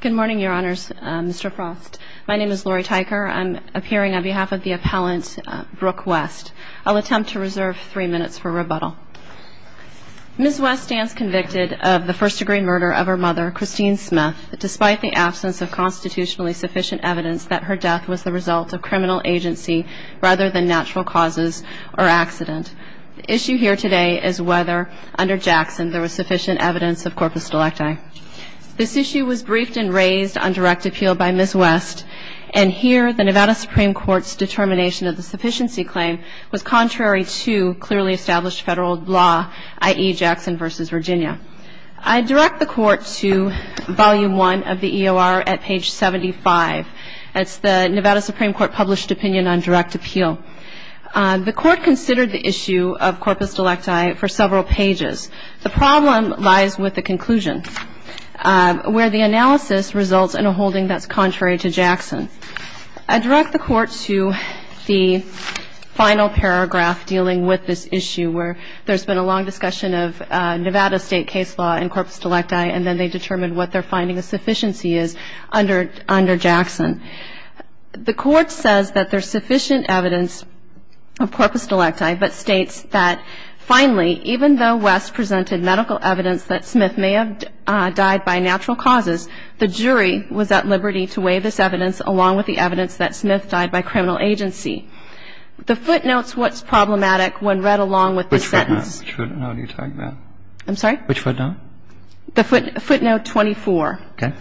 Good morning, your honors, Mr. Frost. My name is Lori Tyker. I'm appearing on behalf of the appellant, Brooke West. I'll attempt to reserve three minutes for rebuttal. Ms. West stands convicted of the first-degree murder of her mother, Christine Smith, despite the absence of constitutionally sufficient evidence that her death was the result of criminal agency rather than natural causes or accident. The issue here today is whether, under Jackson, there was briefed and raised on direct appeal by Ms. West, and here the Nevada Supreme Court's determination of the sufficiency claim was contrary to clearly established federal law, i.e. Jackson v. Virginia. I direct the court to volume 1 of the EOR at page 75. That's the Nevada Supreme Court published opinion on direct appeal. The court considered the issue of corpus delecti for several pages. The problem lies with the conclusion. Where the analysis results in a holding that's contrary to Jackson. I direct the court to the final paragraph dealing with this issue, where there's been a long discussion of Nevada state case law and corpus delecti, and then they determined what their finding of sufficiency is under Jackson. The court says that there's sufficient evidence of corpus delecti, but states that finally, even though West presented medical evidence that Smith may have died by natural causes, the jury was at liberty to weigh this evidence along with the evidence that Smith died by criminal agency. The footnote's what's problematic when read along with the sentence. Which footnote are you talking about? I'm sorry? Which footnote? The footnote 24. Okay.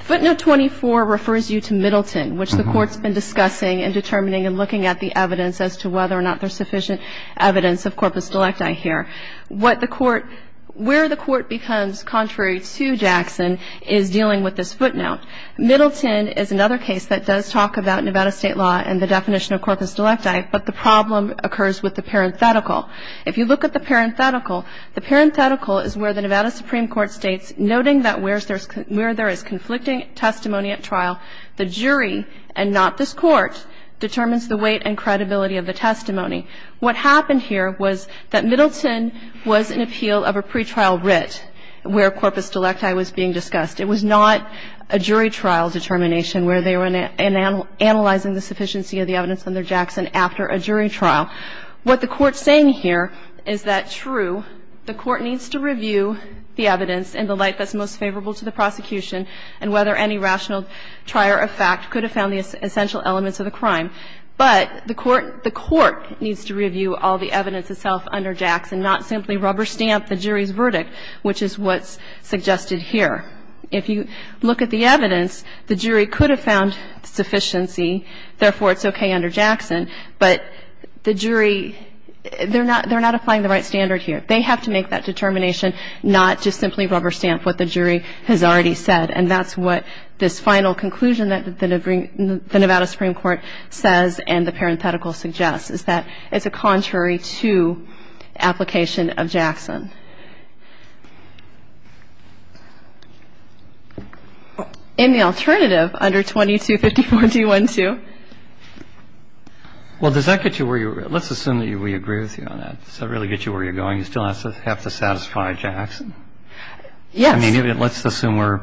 Footnote 24 refers you to Middleton, which the court's been discussing and determining and looking at the evidence as to whether or not there's sufficient evidence of corpus delecti here. What the court – where the court becomes contrary to Jackson – is dealing with this footnote. Middleton is another case that does talk about Nevada state law and the definition of corpus delecti, but the problem occurs with the parenthetical. If you look at the parenthetical, the parenthetical is where the Nevada Supreme Court states, noting that where there is conflicting testimony at trial, the jury, and not this court, determines the weight and credibility of the testimony. What the court's saying here is that, true, the court needs to review the evidence in the light that's most favorable to the prosecution and whether any rational trier of fact could have found the essential elements of the crime, but the court – the court needs to review all the evidence itself under Jackson, not simply rubber stamp the jury's verdict, which is what's – what's being discussed suggested here. If you look at the evidence, the jury could have found sufficiency, therefore it's okay under Jackson, but the jury – they're not applying the right standard here. They have to make that determination, not just simply rubber stamp what the jury has already said, and that's what this final conclusion that the Nevada Supreme Court says and the parenthetical suggests, is that it's a contrary to application of Jackson. In the alternative, under 2254 D-1-2. Well, does that get you where you're – let's assume that we agree with you on that. Does that really get you where you're going? You still have to satisfy Jackson? Yes. I mean, let's assume we're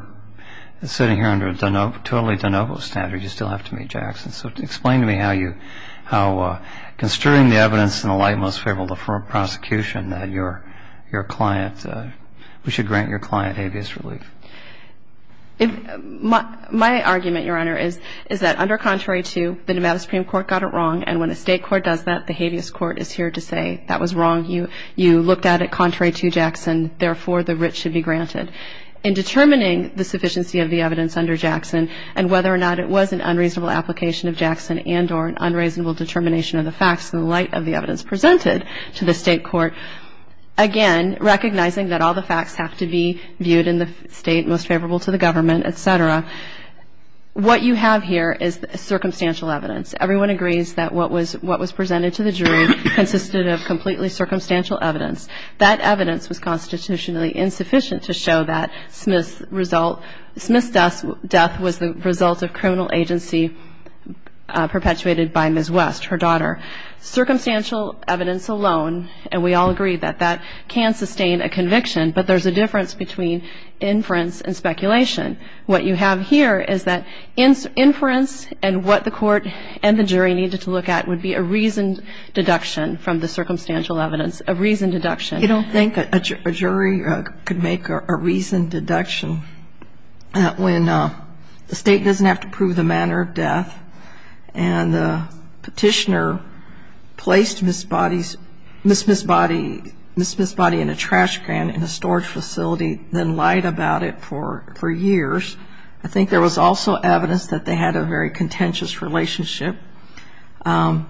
sitting here under a totally de novo standard. You still have to meet Jackson, so explain to me how you – how construing the evidence in the light most favorable to prosecution, that you're – you're client – we should grant your client habeas relief. My argument, Your Honor, is that under contrary to, the Nevada Supreme Court got it wrong, and when a state court does that, the habeas court is here to say that was wrong. You looked at it contrary to Jackson, therefore the writ should be granted. In determining the sufficiency of the evidence under Jackson, and whether or not it was an unreasonable application of Jackson and or an unreasonable determination of the facts in the light of the evidence presented to the state court, again, recognizing that all the facts have to be viewed in the state most favorable to the government, et cetera. What you have here is circumstantial evidence. Everyone agrees that what was presented to the jury consisted of completely circumstantial evidence. That evidence was constitutionally insufficient to show that Smith's result – Smith's death was the result of criminal agency perpetuated by Ms. Bobbitt. That evidence alone, and we all agree that that can sustain a conviction, but there's a difference between inference and speculation. What you have here is that inference and what the court and the jury needed to look at would be a reasoned deduction from the circumstantial evidence, a reasoned deduction. I don't think a jury could make a reasoned deduction when the state doesn't have to prove the manner of death and the petitioner placed Ms. Bobbitt – Ms. Smith's body in a trash can in a storage facility, then lied about it for years. I think there was also evidence that they had a very contentious relationship. You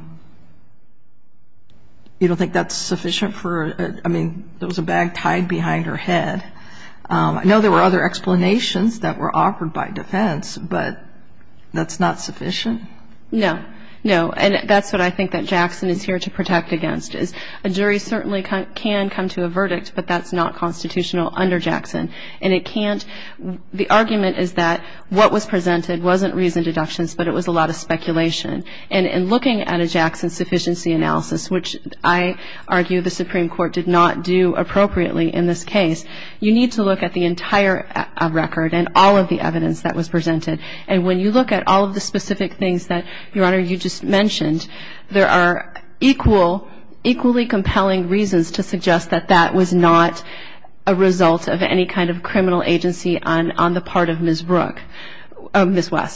don't think that's sufficient for – I mean, there was a bag tied behind her head. I know there were other explanations that were offered by defense, but that's not sufficient? No. No. And that's what I think that Jackson is here to protect against, is a jury certainly can come to a verdict, but that's not constitutional under Jackson. And it can't – the argument is that what was presented wasn't reasoned deductions, but it was a lot of speculation. And in looking at a Jackson sufficiency analysis, which I argue the Supreme Court did not do appropriately in this case, you need to look at the entire record and all of the evidence that was presented. And when you look at all of the specific things that, Your Honor, you just mentioned, there are equally compelling reasons to suggest that that was not a result of any kind of criminal agency on the part of Ms. West.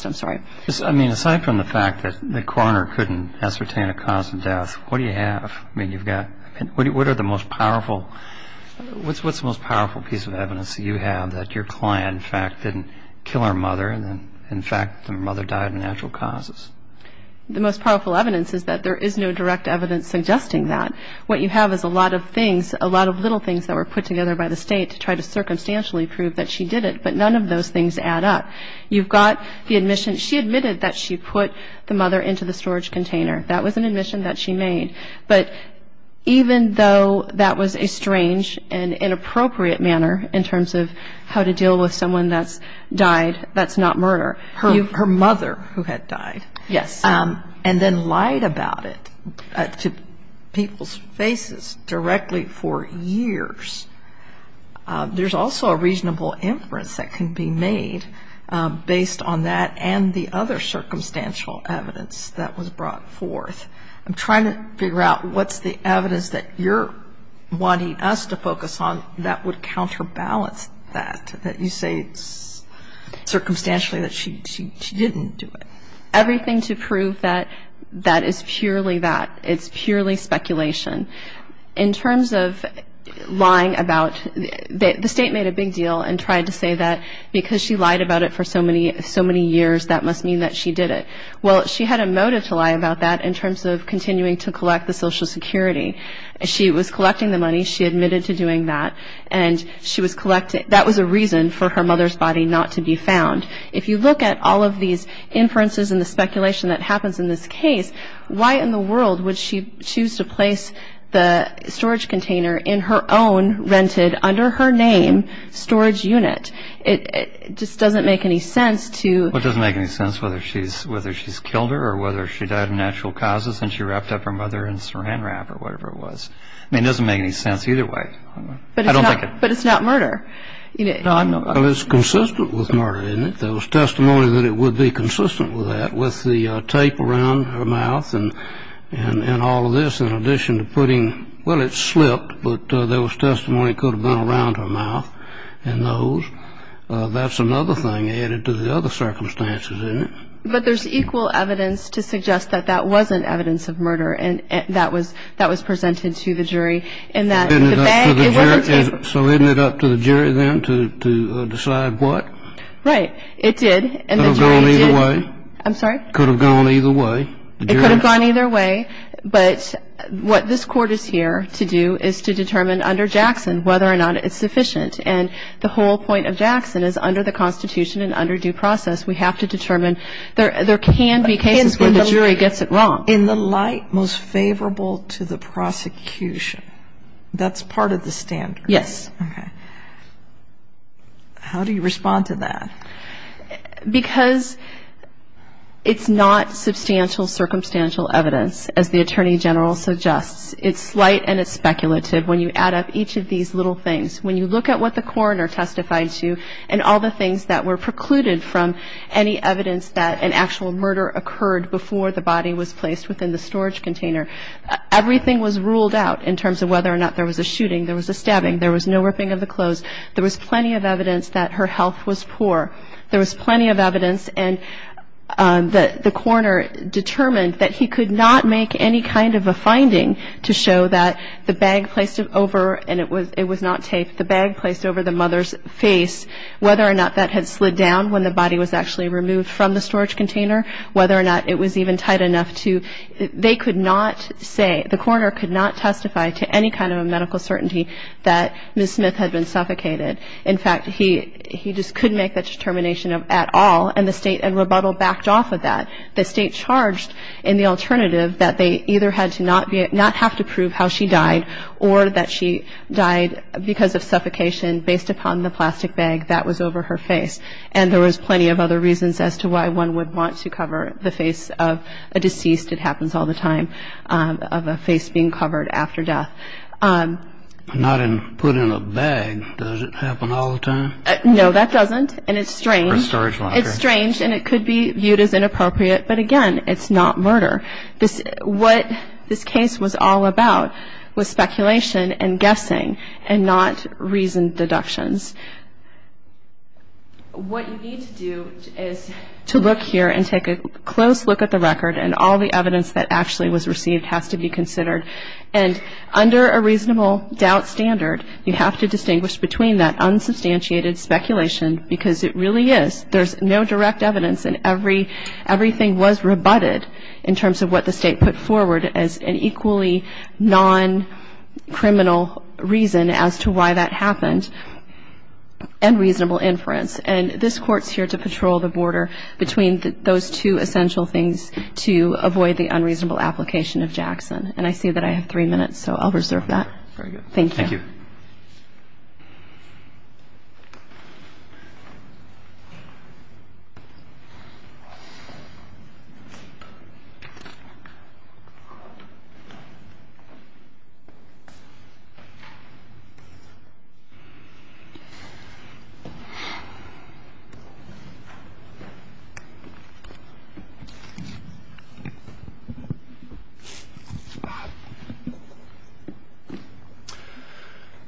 Aside from the fact that the coroner couldn't ascertain a cause of death, what do you have? What are the most powerful – what's the most powerful piece of evidence that you have that your client, in fact, didn't kill her The most powerful evidence is that there is no direct evidence suggesting that. What you have is a lot of things, a lot of little things that were put together by the State to try to circumstantially prove that she did it, but none of those things add up. You've got the admission she admitted that she put the mother into the storage container. That was an admission that she made. But even though that was a strange and inappropriate manner in terms of how to deal with someone that's died, that's not murder. Her mother who had died. Yes. And then lied about it to people's faces directly for years. There's also a reasonable inference that can be made based on that and the other circumstantial evidence that was brought forth. I'm trying to figure out what's the evidence that you're wanting us to focus on that would She didn't do it. Everything to prove that that is purely that. It's purely speculation. In terms of lying about, the State made a big deal and tried to say that because she lied about it for so many years that must mean that she did it. Well, she had a motive to lie about that in terms of continuing to collect the Social Security. She was collecting the money. She admitted to doing that. And she was collecting, that was a reason for her mother's body not to be found. If you look at all of these inferences and the speculation that happens in this case, why in the world would she choose to place the storage container in her own rented under her name storage unit? It just doesn't make any sense to It doesn't make any sense whether she's killed her or whether she died of natural causes and she wrapped up her mother in Saran wrap or whatever it was. It doesn't make any sense either way. But it's not murder. Well, it's consistent with murder, isn't it? There was testimony that it would be consistent with that, with the tape around her mouth and all of this, in addition to putting, well, it slipped, but there was testimony it could have been around her mouth and those. That's another thing added to the other circumstances, isn't it? But there's equal evidence to suggest that that wasn't evidence of murder and that was presented to the jury in that the bag, it wasn't taped. So isn't it up to the jury then to decide what? Right. It did. It could have gone either way. I'm sorry? It could have gone either way. It could have gone either way. But what this Court is here to do is to determine under Jackson whether or not it's sufficient. And the whole point of Jackson is under the Constitution and under due process, we have to determine there can be cases where the jury gets it wrong. In the light most favorable to the prosecution, that's part of the standard. Yes. Okay. How do you respond to that? Because it's not substantial circumstantial evidence, as the Attorney General suggests. It's slight and it's speculative when you add up each of these little things. When you look at what the coroner testified to and all the things that were precluded from any evidence that an actual murder occurred before the body was placed within the storage container, everything was ruled out in terms of whether or not there was a shooting, there was a murder, there was no ripping of the clothes, there was plenty of evidence that her health was poor. There was plenty of evidence. And the coroner determined that he could not make any kind of a finding to show that the bag placed over, and it was not taped, the bag placed over the mother's face, whether or not that had slid down when the body was actually removed from the storage container, whether or not it was even tight enough to, they could not say, the coroner could not testify to any kind of medical certainty that Ms. Smith had been suffocated. In fact, he just couldn't make that determination at all, and the State and rebuttal backed off of that. The State charged in the alternative that they either had to not have to prove how she died or that she died because of suffocation based upon the plastic bag that was over her face. And there was plenty of other reasons as to why one would want to cover the face of a deceased. It happens all the time, of a face being covered after death. Not put in a bag, does it happen all the time? No, that doesn't, and it's strange. Or a storage locker. It's strange, and it could be viewed as inappropriate, but again, it's not murder. What this case was all about was speculation and guessing and not reasoned deductions. What you need to do is to look here and take a close look at the record, and all the evidence that actually was received has to be under a reasonable doubt standard. You have to distinguish between that unsubstantiated speculation, because it really is. There's no direct evidence, and everything was rebutted in terms of what the State put forward as an equally non-criminal reason as to why that happened, and reasonable inference. And this Court's here to patrol the border between those two essential things to avoid the unreasonable application of Jackson. And I see that I have three minutes, so I'll reserve that. Very good. Thank you.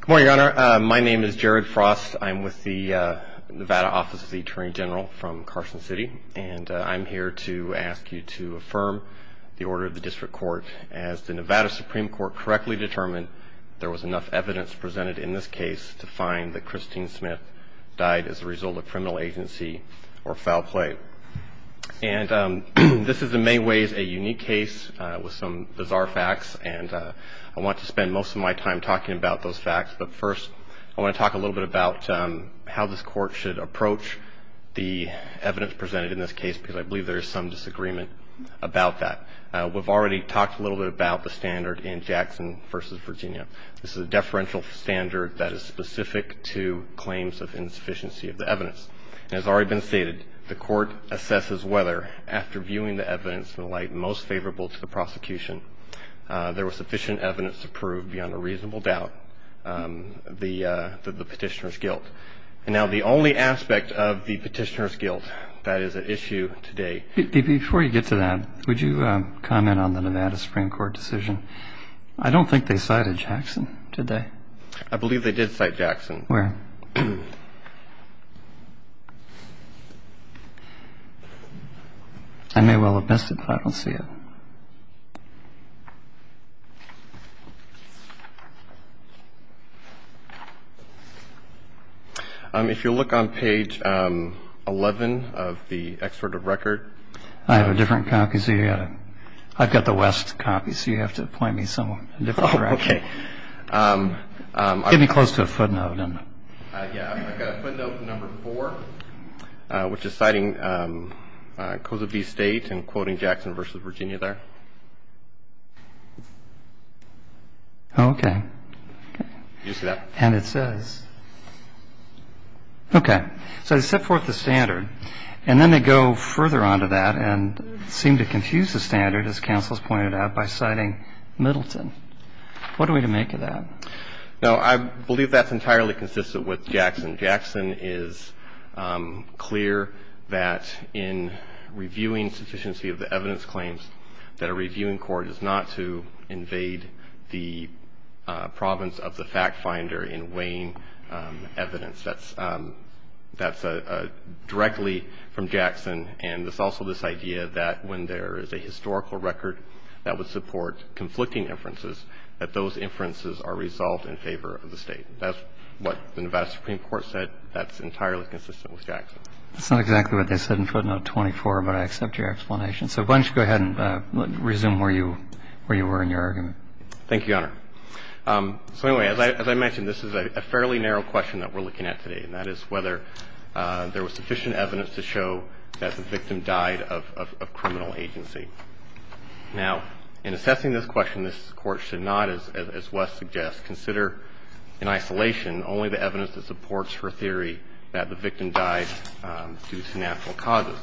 Good morning, Your Honor. My name is Jared Frost. I'm with the Nevada Office of the Attorney General from Carson City, and I'm here to ask you to affirm the order of the District Court as the Nevada Supreme Court correctly determined there was enough evidence presented in this case to find that Christine Smith died as a result of criminal agency or foul play. And this is in many ways a unique case with some bizarre facts, and I want to spend most of my time talking about those facts. But first, I want to talk a little bit about how this Court should approach the evidence presented in this case, because I believe there is some disagreement about that. We've already talked a little bit about the standard in Jackson v. Virginia. This is a deferential standard that is specific to claims of insufficiency of the evidence. It has already been stated the Court assesses whether, after viewing the evidence in the light most favorable to the prosecution, there was sufficient evidence to prove beyond a reasonable doubt the petitioner's guilt. And now the only aspect of the petitioner's guilt that is at issue today Before you get to that, would you comment on the Nevada Supreme Court decision? I don't think they cited Jackson, did they? I believe they did cite Jackson. Where? I may well have missed it, but I don't see it. If you'll look on page 11 of the extortive record. I have a different copy, so you've got to – I've got the West copy, so you have to point me somewhere in a different direction. Okay. Get me close to a footnote. Yeah, I've got footnote number four, which is citing codes of the state and quoting Jackson v. Virginia there. Okay. You see that? And it says – okay. So they set forth the standard, and then they go further on to that and seem to confuse the standard, as counsel has pointed out, by citing Middleton. What are we to make of that? No, I believe that's entirely consistent with Jackson. Jackson is clear that in reviewing sufficiency of the evidence claims that a reviewing court is not to invade the province of the fact finder in weighing evidence. That's directly from Jackson. And there's also this idea that when there is a historical record that would support conflicting inferences, that those inferences are resolved in favor of the State. That's what the Nevada Supreme Court said. That's entirely consistent with Jackson. That's not exactly what they said in footnote 24, but I accept your explanation. So why don't you go ahead and resume where you were in your argument. Thank you, Your Honor. So anyway, as I mentioned, this is a fairly narrow question that we're looking at today, and that is whether there was sufficient evidence to show that the victim died of criminal agency. Now, in assessing this question, this Court should not, as Wes suggests, consider in isolation only the evidence that supports her theory that the victim died due to natural causes.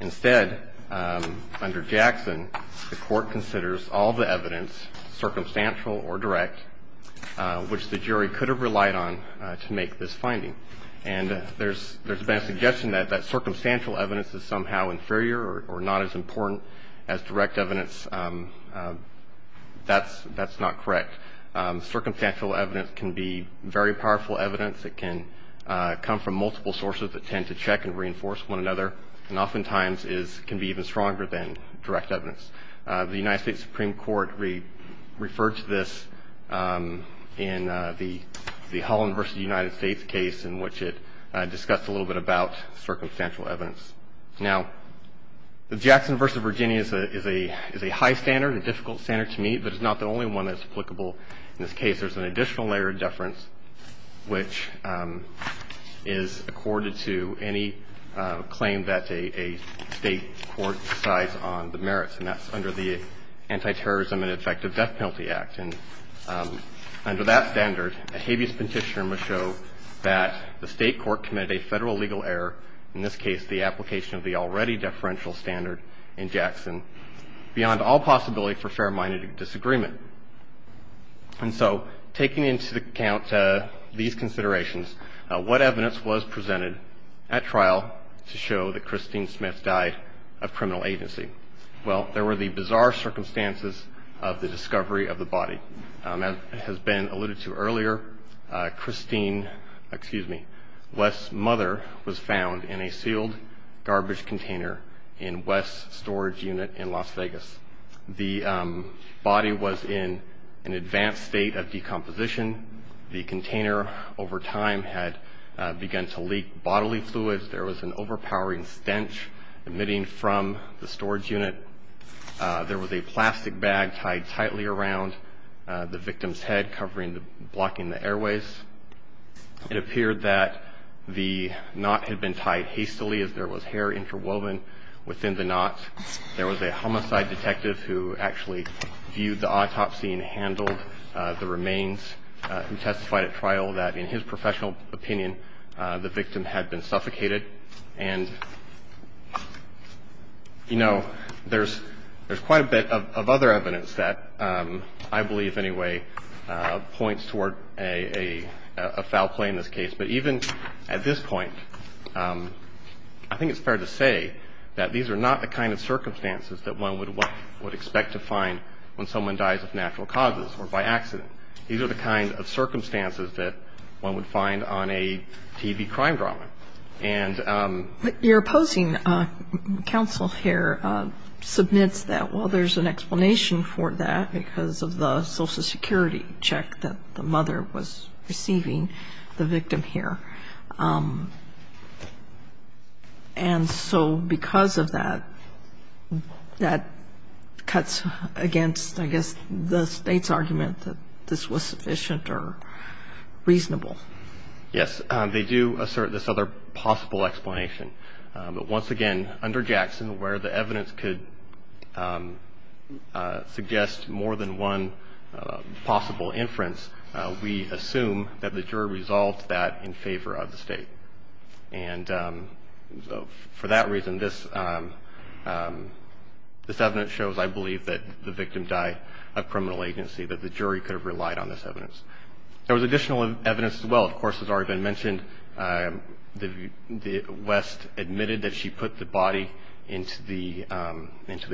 Instead, under Jackson, the Court considers all the evidence, circumstantial or direct, which the jury could have relied on to make this finding. And there's been a suggestion that that circumstantial evidence is somehow inferior or not as important as direct evidence. That's not correct. Circumstantial evidence can be very powerful evidence. It can come from multiple sources that tend to check and reinforce one another, and oftentimes can be even stronger than direct evidence. The United States Supreme Court referred to this in the Holland v. United States case in which it discussed a little bit about circumstantial evidence. Now, the Jackson v. Virginia is a high standard, a difficult standard to meet, but it's not the only one that's applicable in this case. There's an additional layer of deference which is accorded to any claim that a State court decides on the merits, and that's under the Antiterrorism and Effective Death Penalty Act. And under that standard, a habeas petitioner must show that the State court committed a federal legal error, in this case the application of the already deferential standard in Jackson, beyond all possibility for fair-minded disagreement. And so taking into account these considerations, what evidence was presented at trial to show that Christine Smith died of criminal agency? Well, there were the bizarre circumstances of the discovery of the body. As has been alluded to earlier, Christine, excuse me, Wes's mother was found in a sealed garbage container in Wes's storage unit in Las Vegas. The body was in an advanced state of decomposition. The container, over time, had begun to leak bodily fluids. There was an overpowering stench emitting from the storage unit. There was a plastic bag tied tightly around the victim's head, covering the – blocking the airways. It appeared that the knot had been tied hastily as there was hair interwoven within the knot. There was a homicide detective who actually viewed the autopsy and handled the remains and testified at trial that, in his professional opinion, the victim had been suffocated. And, you know, there's quite a bit of other evidence that I believe anyway points toward a foul play in this case. But even at this point, I think it's fair to say that these are not the kind of circumstances that one would expect to find when someone dies of natural causes or by accident. These are the kind of circumstances that one would find on a TV crime drama. And – But your opposing counsel here submits that, well, there's an explanation for that because of the Social Security check that the mother was receiving, the victim here. And so because of that, that cuts against, I guess, the State's argument that this was sufficient or reasonable. Yes. They do assert this other possible explanation. But once again, under Jackson, where the evidence could suggest more than one possible inference, we assume that the jury resolved that in favor of the State. And for that reason, this evidence shows, I believe, that the victim died of criminal agency, that the jury could have relied on this evidence. There was additional evidence as well. Of course, as has already been mentioned, West admitted that she put the body into the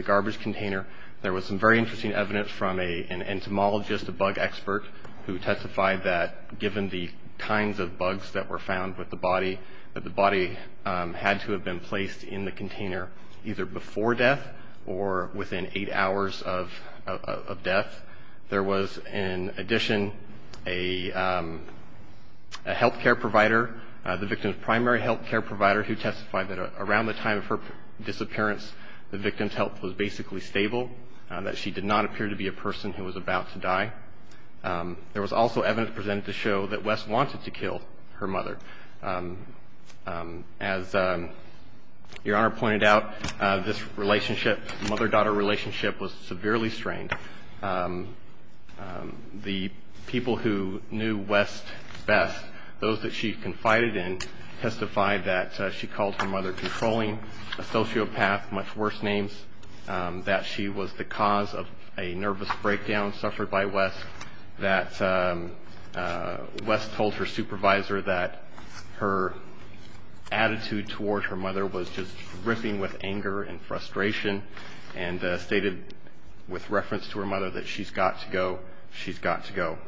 garbage container. There was some very interesting evidence from an entomologist, a bug expert, who testified that given the kinds of bugs that were found with the body, that the body had to have been placed in the container either before death or within eight hours of death. There was, in addition, a healthcare provider, the victim's primary healthcare provider, who testified that around the time of her disappearance, the victim's health was basically stable, that she did not appear to be a person who was about to die. There was also evidence presented to show that West wanted to kill her mother. As Your Honor pointed out, this relationship, mother-daughter relationship, was severely strained. The people who knew West best, those that she confided in, testified that she called her mother controlling, a sociopath, much worse names, that she was the cause of a nervous breakdown suffered by West, that West told her supervisor that her attitude towards her mother was just ripping with anger and frustration, and stated with reference to her mother that she's got to go, she's got to go.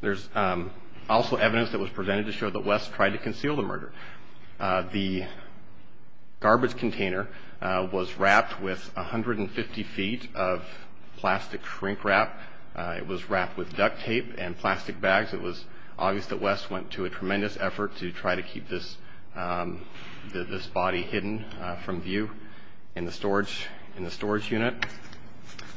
There's also evidence that was presented to show that West tried to conceal the murder. The garbage container was wrapped with 150 feet of plastic shrink wrap. It was wrapped with duct tape and plastic bags. It was obvious that West went to a tremendous effort to try to keep this body hidden from view. In the storage unit,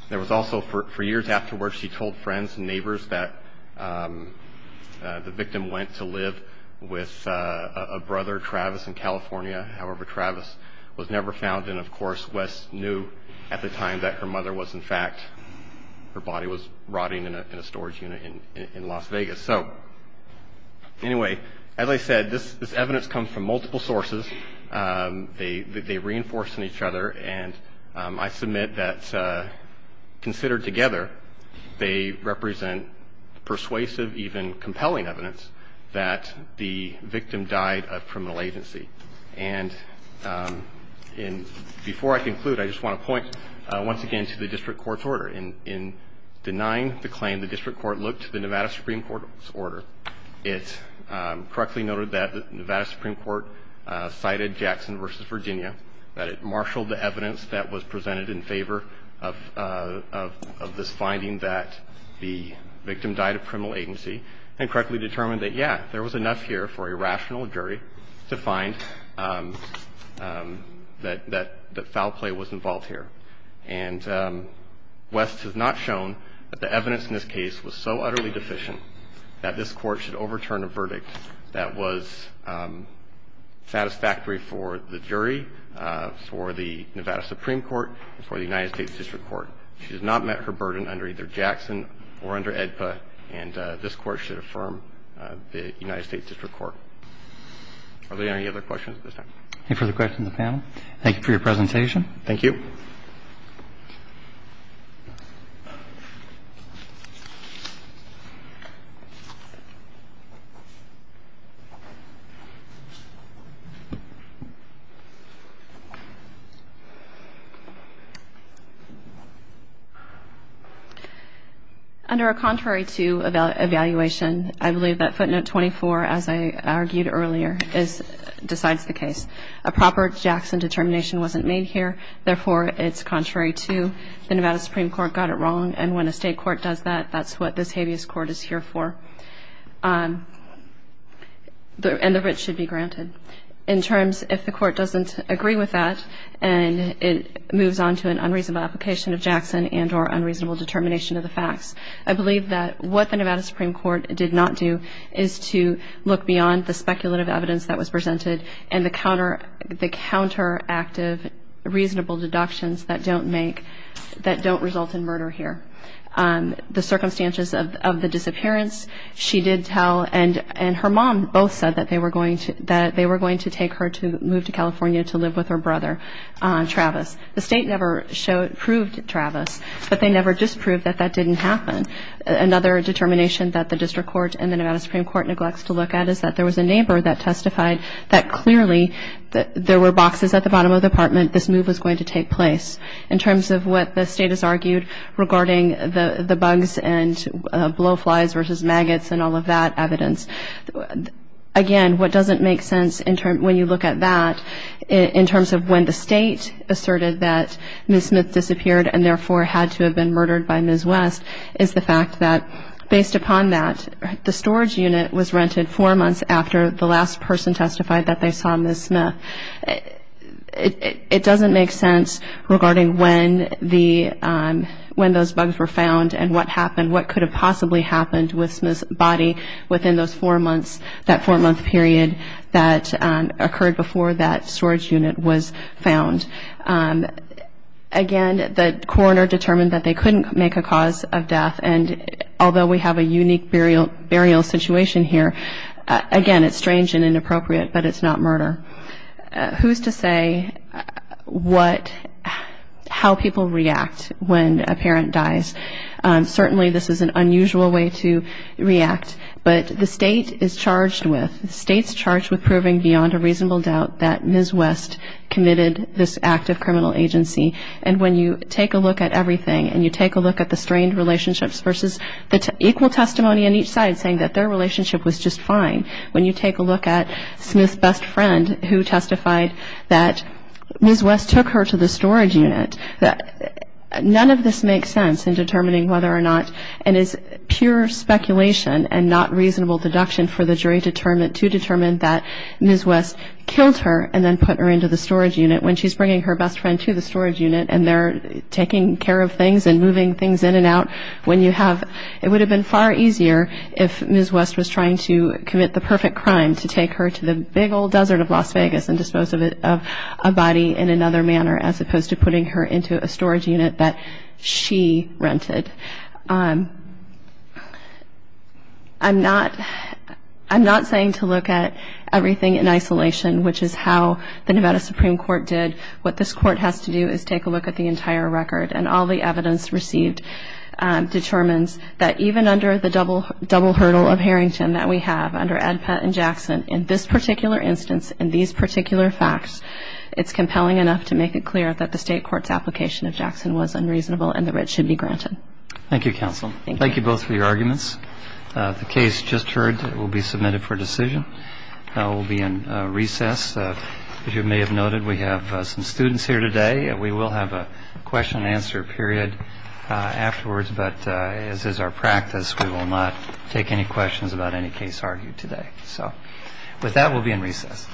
there was also, for years afterwards, she told friends and neighbors that the victim went to live with a brother, Travis, in California. However, Travis was never found. Of course, West knew at the time that her mother was, in fact, her body was rotting in a storage unit in Las Vegas. Anyway, as I said, this evidence comes from multiple sources. They reinforce in each other, and I submit that considered together, they represent persuasive, even compelling evidence that the victim died of criminal agency. And before I conclude, I just want to point once again to the district court's order. In denying the claim, the district court looked to the Nevada Supreme Court's order. It correctly noted that the Nevada Supreme Court cited Jackson v. Virginia, that it marshaled the evidence that was presented in favor of this finding that the victim died of criminal agency, and correctly determined that, yeah, there was enough here for a rational jury to find that foul play was involved here. And West has not shown that the evidence in this case was so utterly deficient that this Court should overturn a verdict that was satisfactory for the jury, for the Nevada Supreme Court, and for the United States District Court. She has not met her burden under either Jackson or under AEDPA, and this Court should affirm the United States District Court. Are there any other questions at this time? Any further questions of the panel? Thank you for your presentation. Thank you. Thank you. Under a contrary to evaluation, I believe that footnote 24, as I argued earlier, decides the case. A proper Jackson determination wasn't made here. Therefore, it's contrary to. The Nevada Supreme Court got it wrong, and when a state court does that, that's what this habeas court is here for. And the writ should be granted. In terms, if the court doesn't agree with that, and it moves on to an unreasonable application of Jackson and or unreasonable determination of the facts, I believe that what the Nevada Supreme Court did not do is to look beyond the speculative evidence that was presented and the counteractive reasonable deductions that don't make, that don't result in murder here. The circumstances of the disappearance, she did tell, and her mom both said that they were going to take her to move to California to live with her brother, Travis. The state never proved Travis, but they never disproved that that didn't happen. Another determination that the District Court and the Nevada Supreme Court neglects to look at is that there was a neighbor that testified that, clearly, there were boxes at the bottom of the apartment. This move was going to take place. In terms of what the state has argued regarding the bugs and blowflies versus maggots and all of that evidence, again, what doesn't make sense when you look at that, in terms of when the state asserted that Ms. Smith disappeared and, therefore, had to have been murdered by Ms. West, is the fact that, based upon that, the storage unit was rented four months after the last person testified that they saw Ms. Smith. It doesn't make sense regarding when those bugs were found and what happened, what could have possibly happened with Ms. Body within those four months, that four-month period that occurred before that storage unit was found. Again, the coroner determined that they couldn't make a cause of death, and although we have a unique burial situation here, again, it's strange and inappropriate, but it's not murder. Who's to say how people react when a parent dies? Certainly, this is an unusual way to react, but the state is charged with, proving beyond a reasonable doubt that Ms. West committed this act of criminal agency, and when you take a look at everything and you take a look at the strained relationships versus the equal testimony on each side saying that their relationship was just fine, when you take a look at Smith's best friend who testified that Ms. West took her to the storage unit, none of this makes sense in determining whether or not it is pure speculation and not reasonable deduction for the jury to determine that Ms. West killed her and then put her into the storage unit when she's bringing her best friend to the storage unit and they're taking care of things and moving things in and out. It would have been far easier if Ms. West was trying to commit the perfect crime to take her to the big old desert of Las Vegas and dispose of a body in another manner as opposed to putting her into a storage unit that she rented. I'm not saying to look at everything in isolation, which is how the Nevada Supreme Court did. What this Court has to do is take a look at the entire record, and all the evidence received determines that even under the double hurdle of Harrington that we have under Ed, Pat, and Jackson, in this particular instance, in these particular facts, it's compelling enough to make it clear that the state court's application of Jackson was unreasonable and the writ should be granted. Thank you, counsel. Thank you both for your arguments. The case just heard will be submitted for decision. It will be in recess. As you may have noted, we have some students here today. We will have a question and answer period afterwards, but as is our practice, we will not take any questions about any case argued today. With that, we'll be in recess.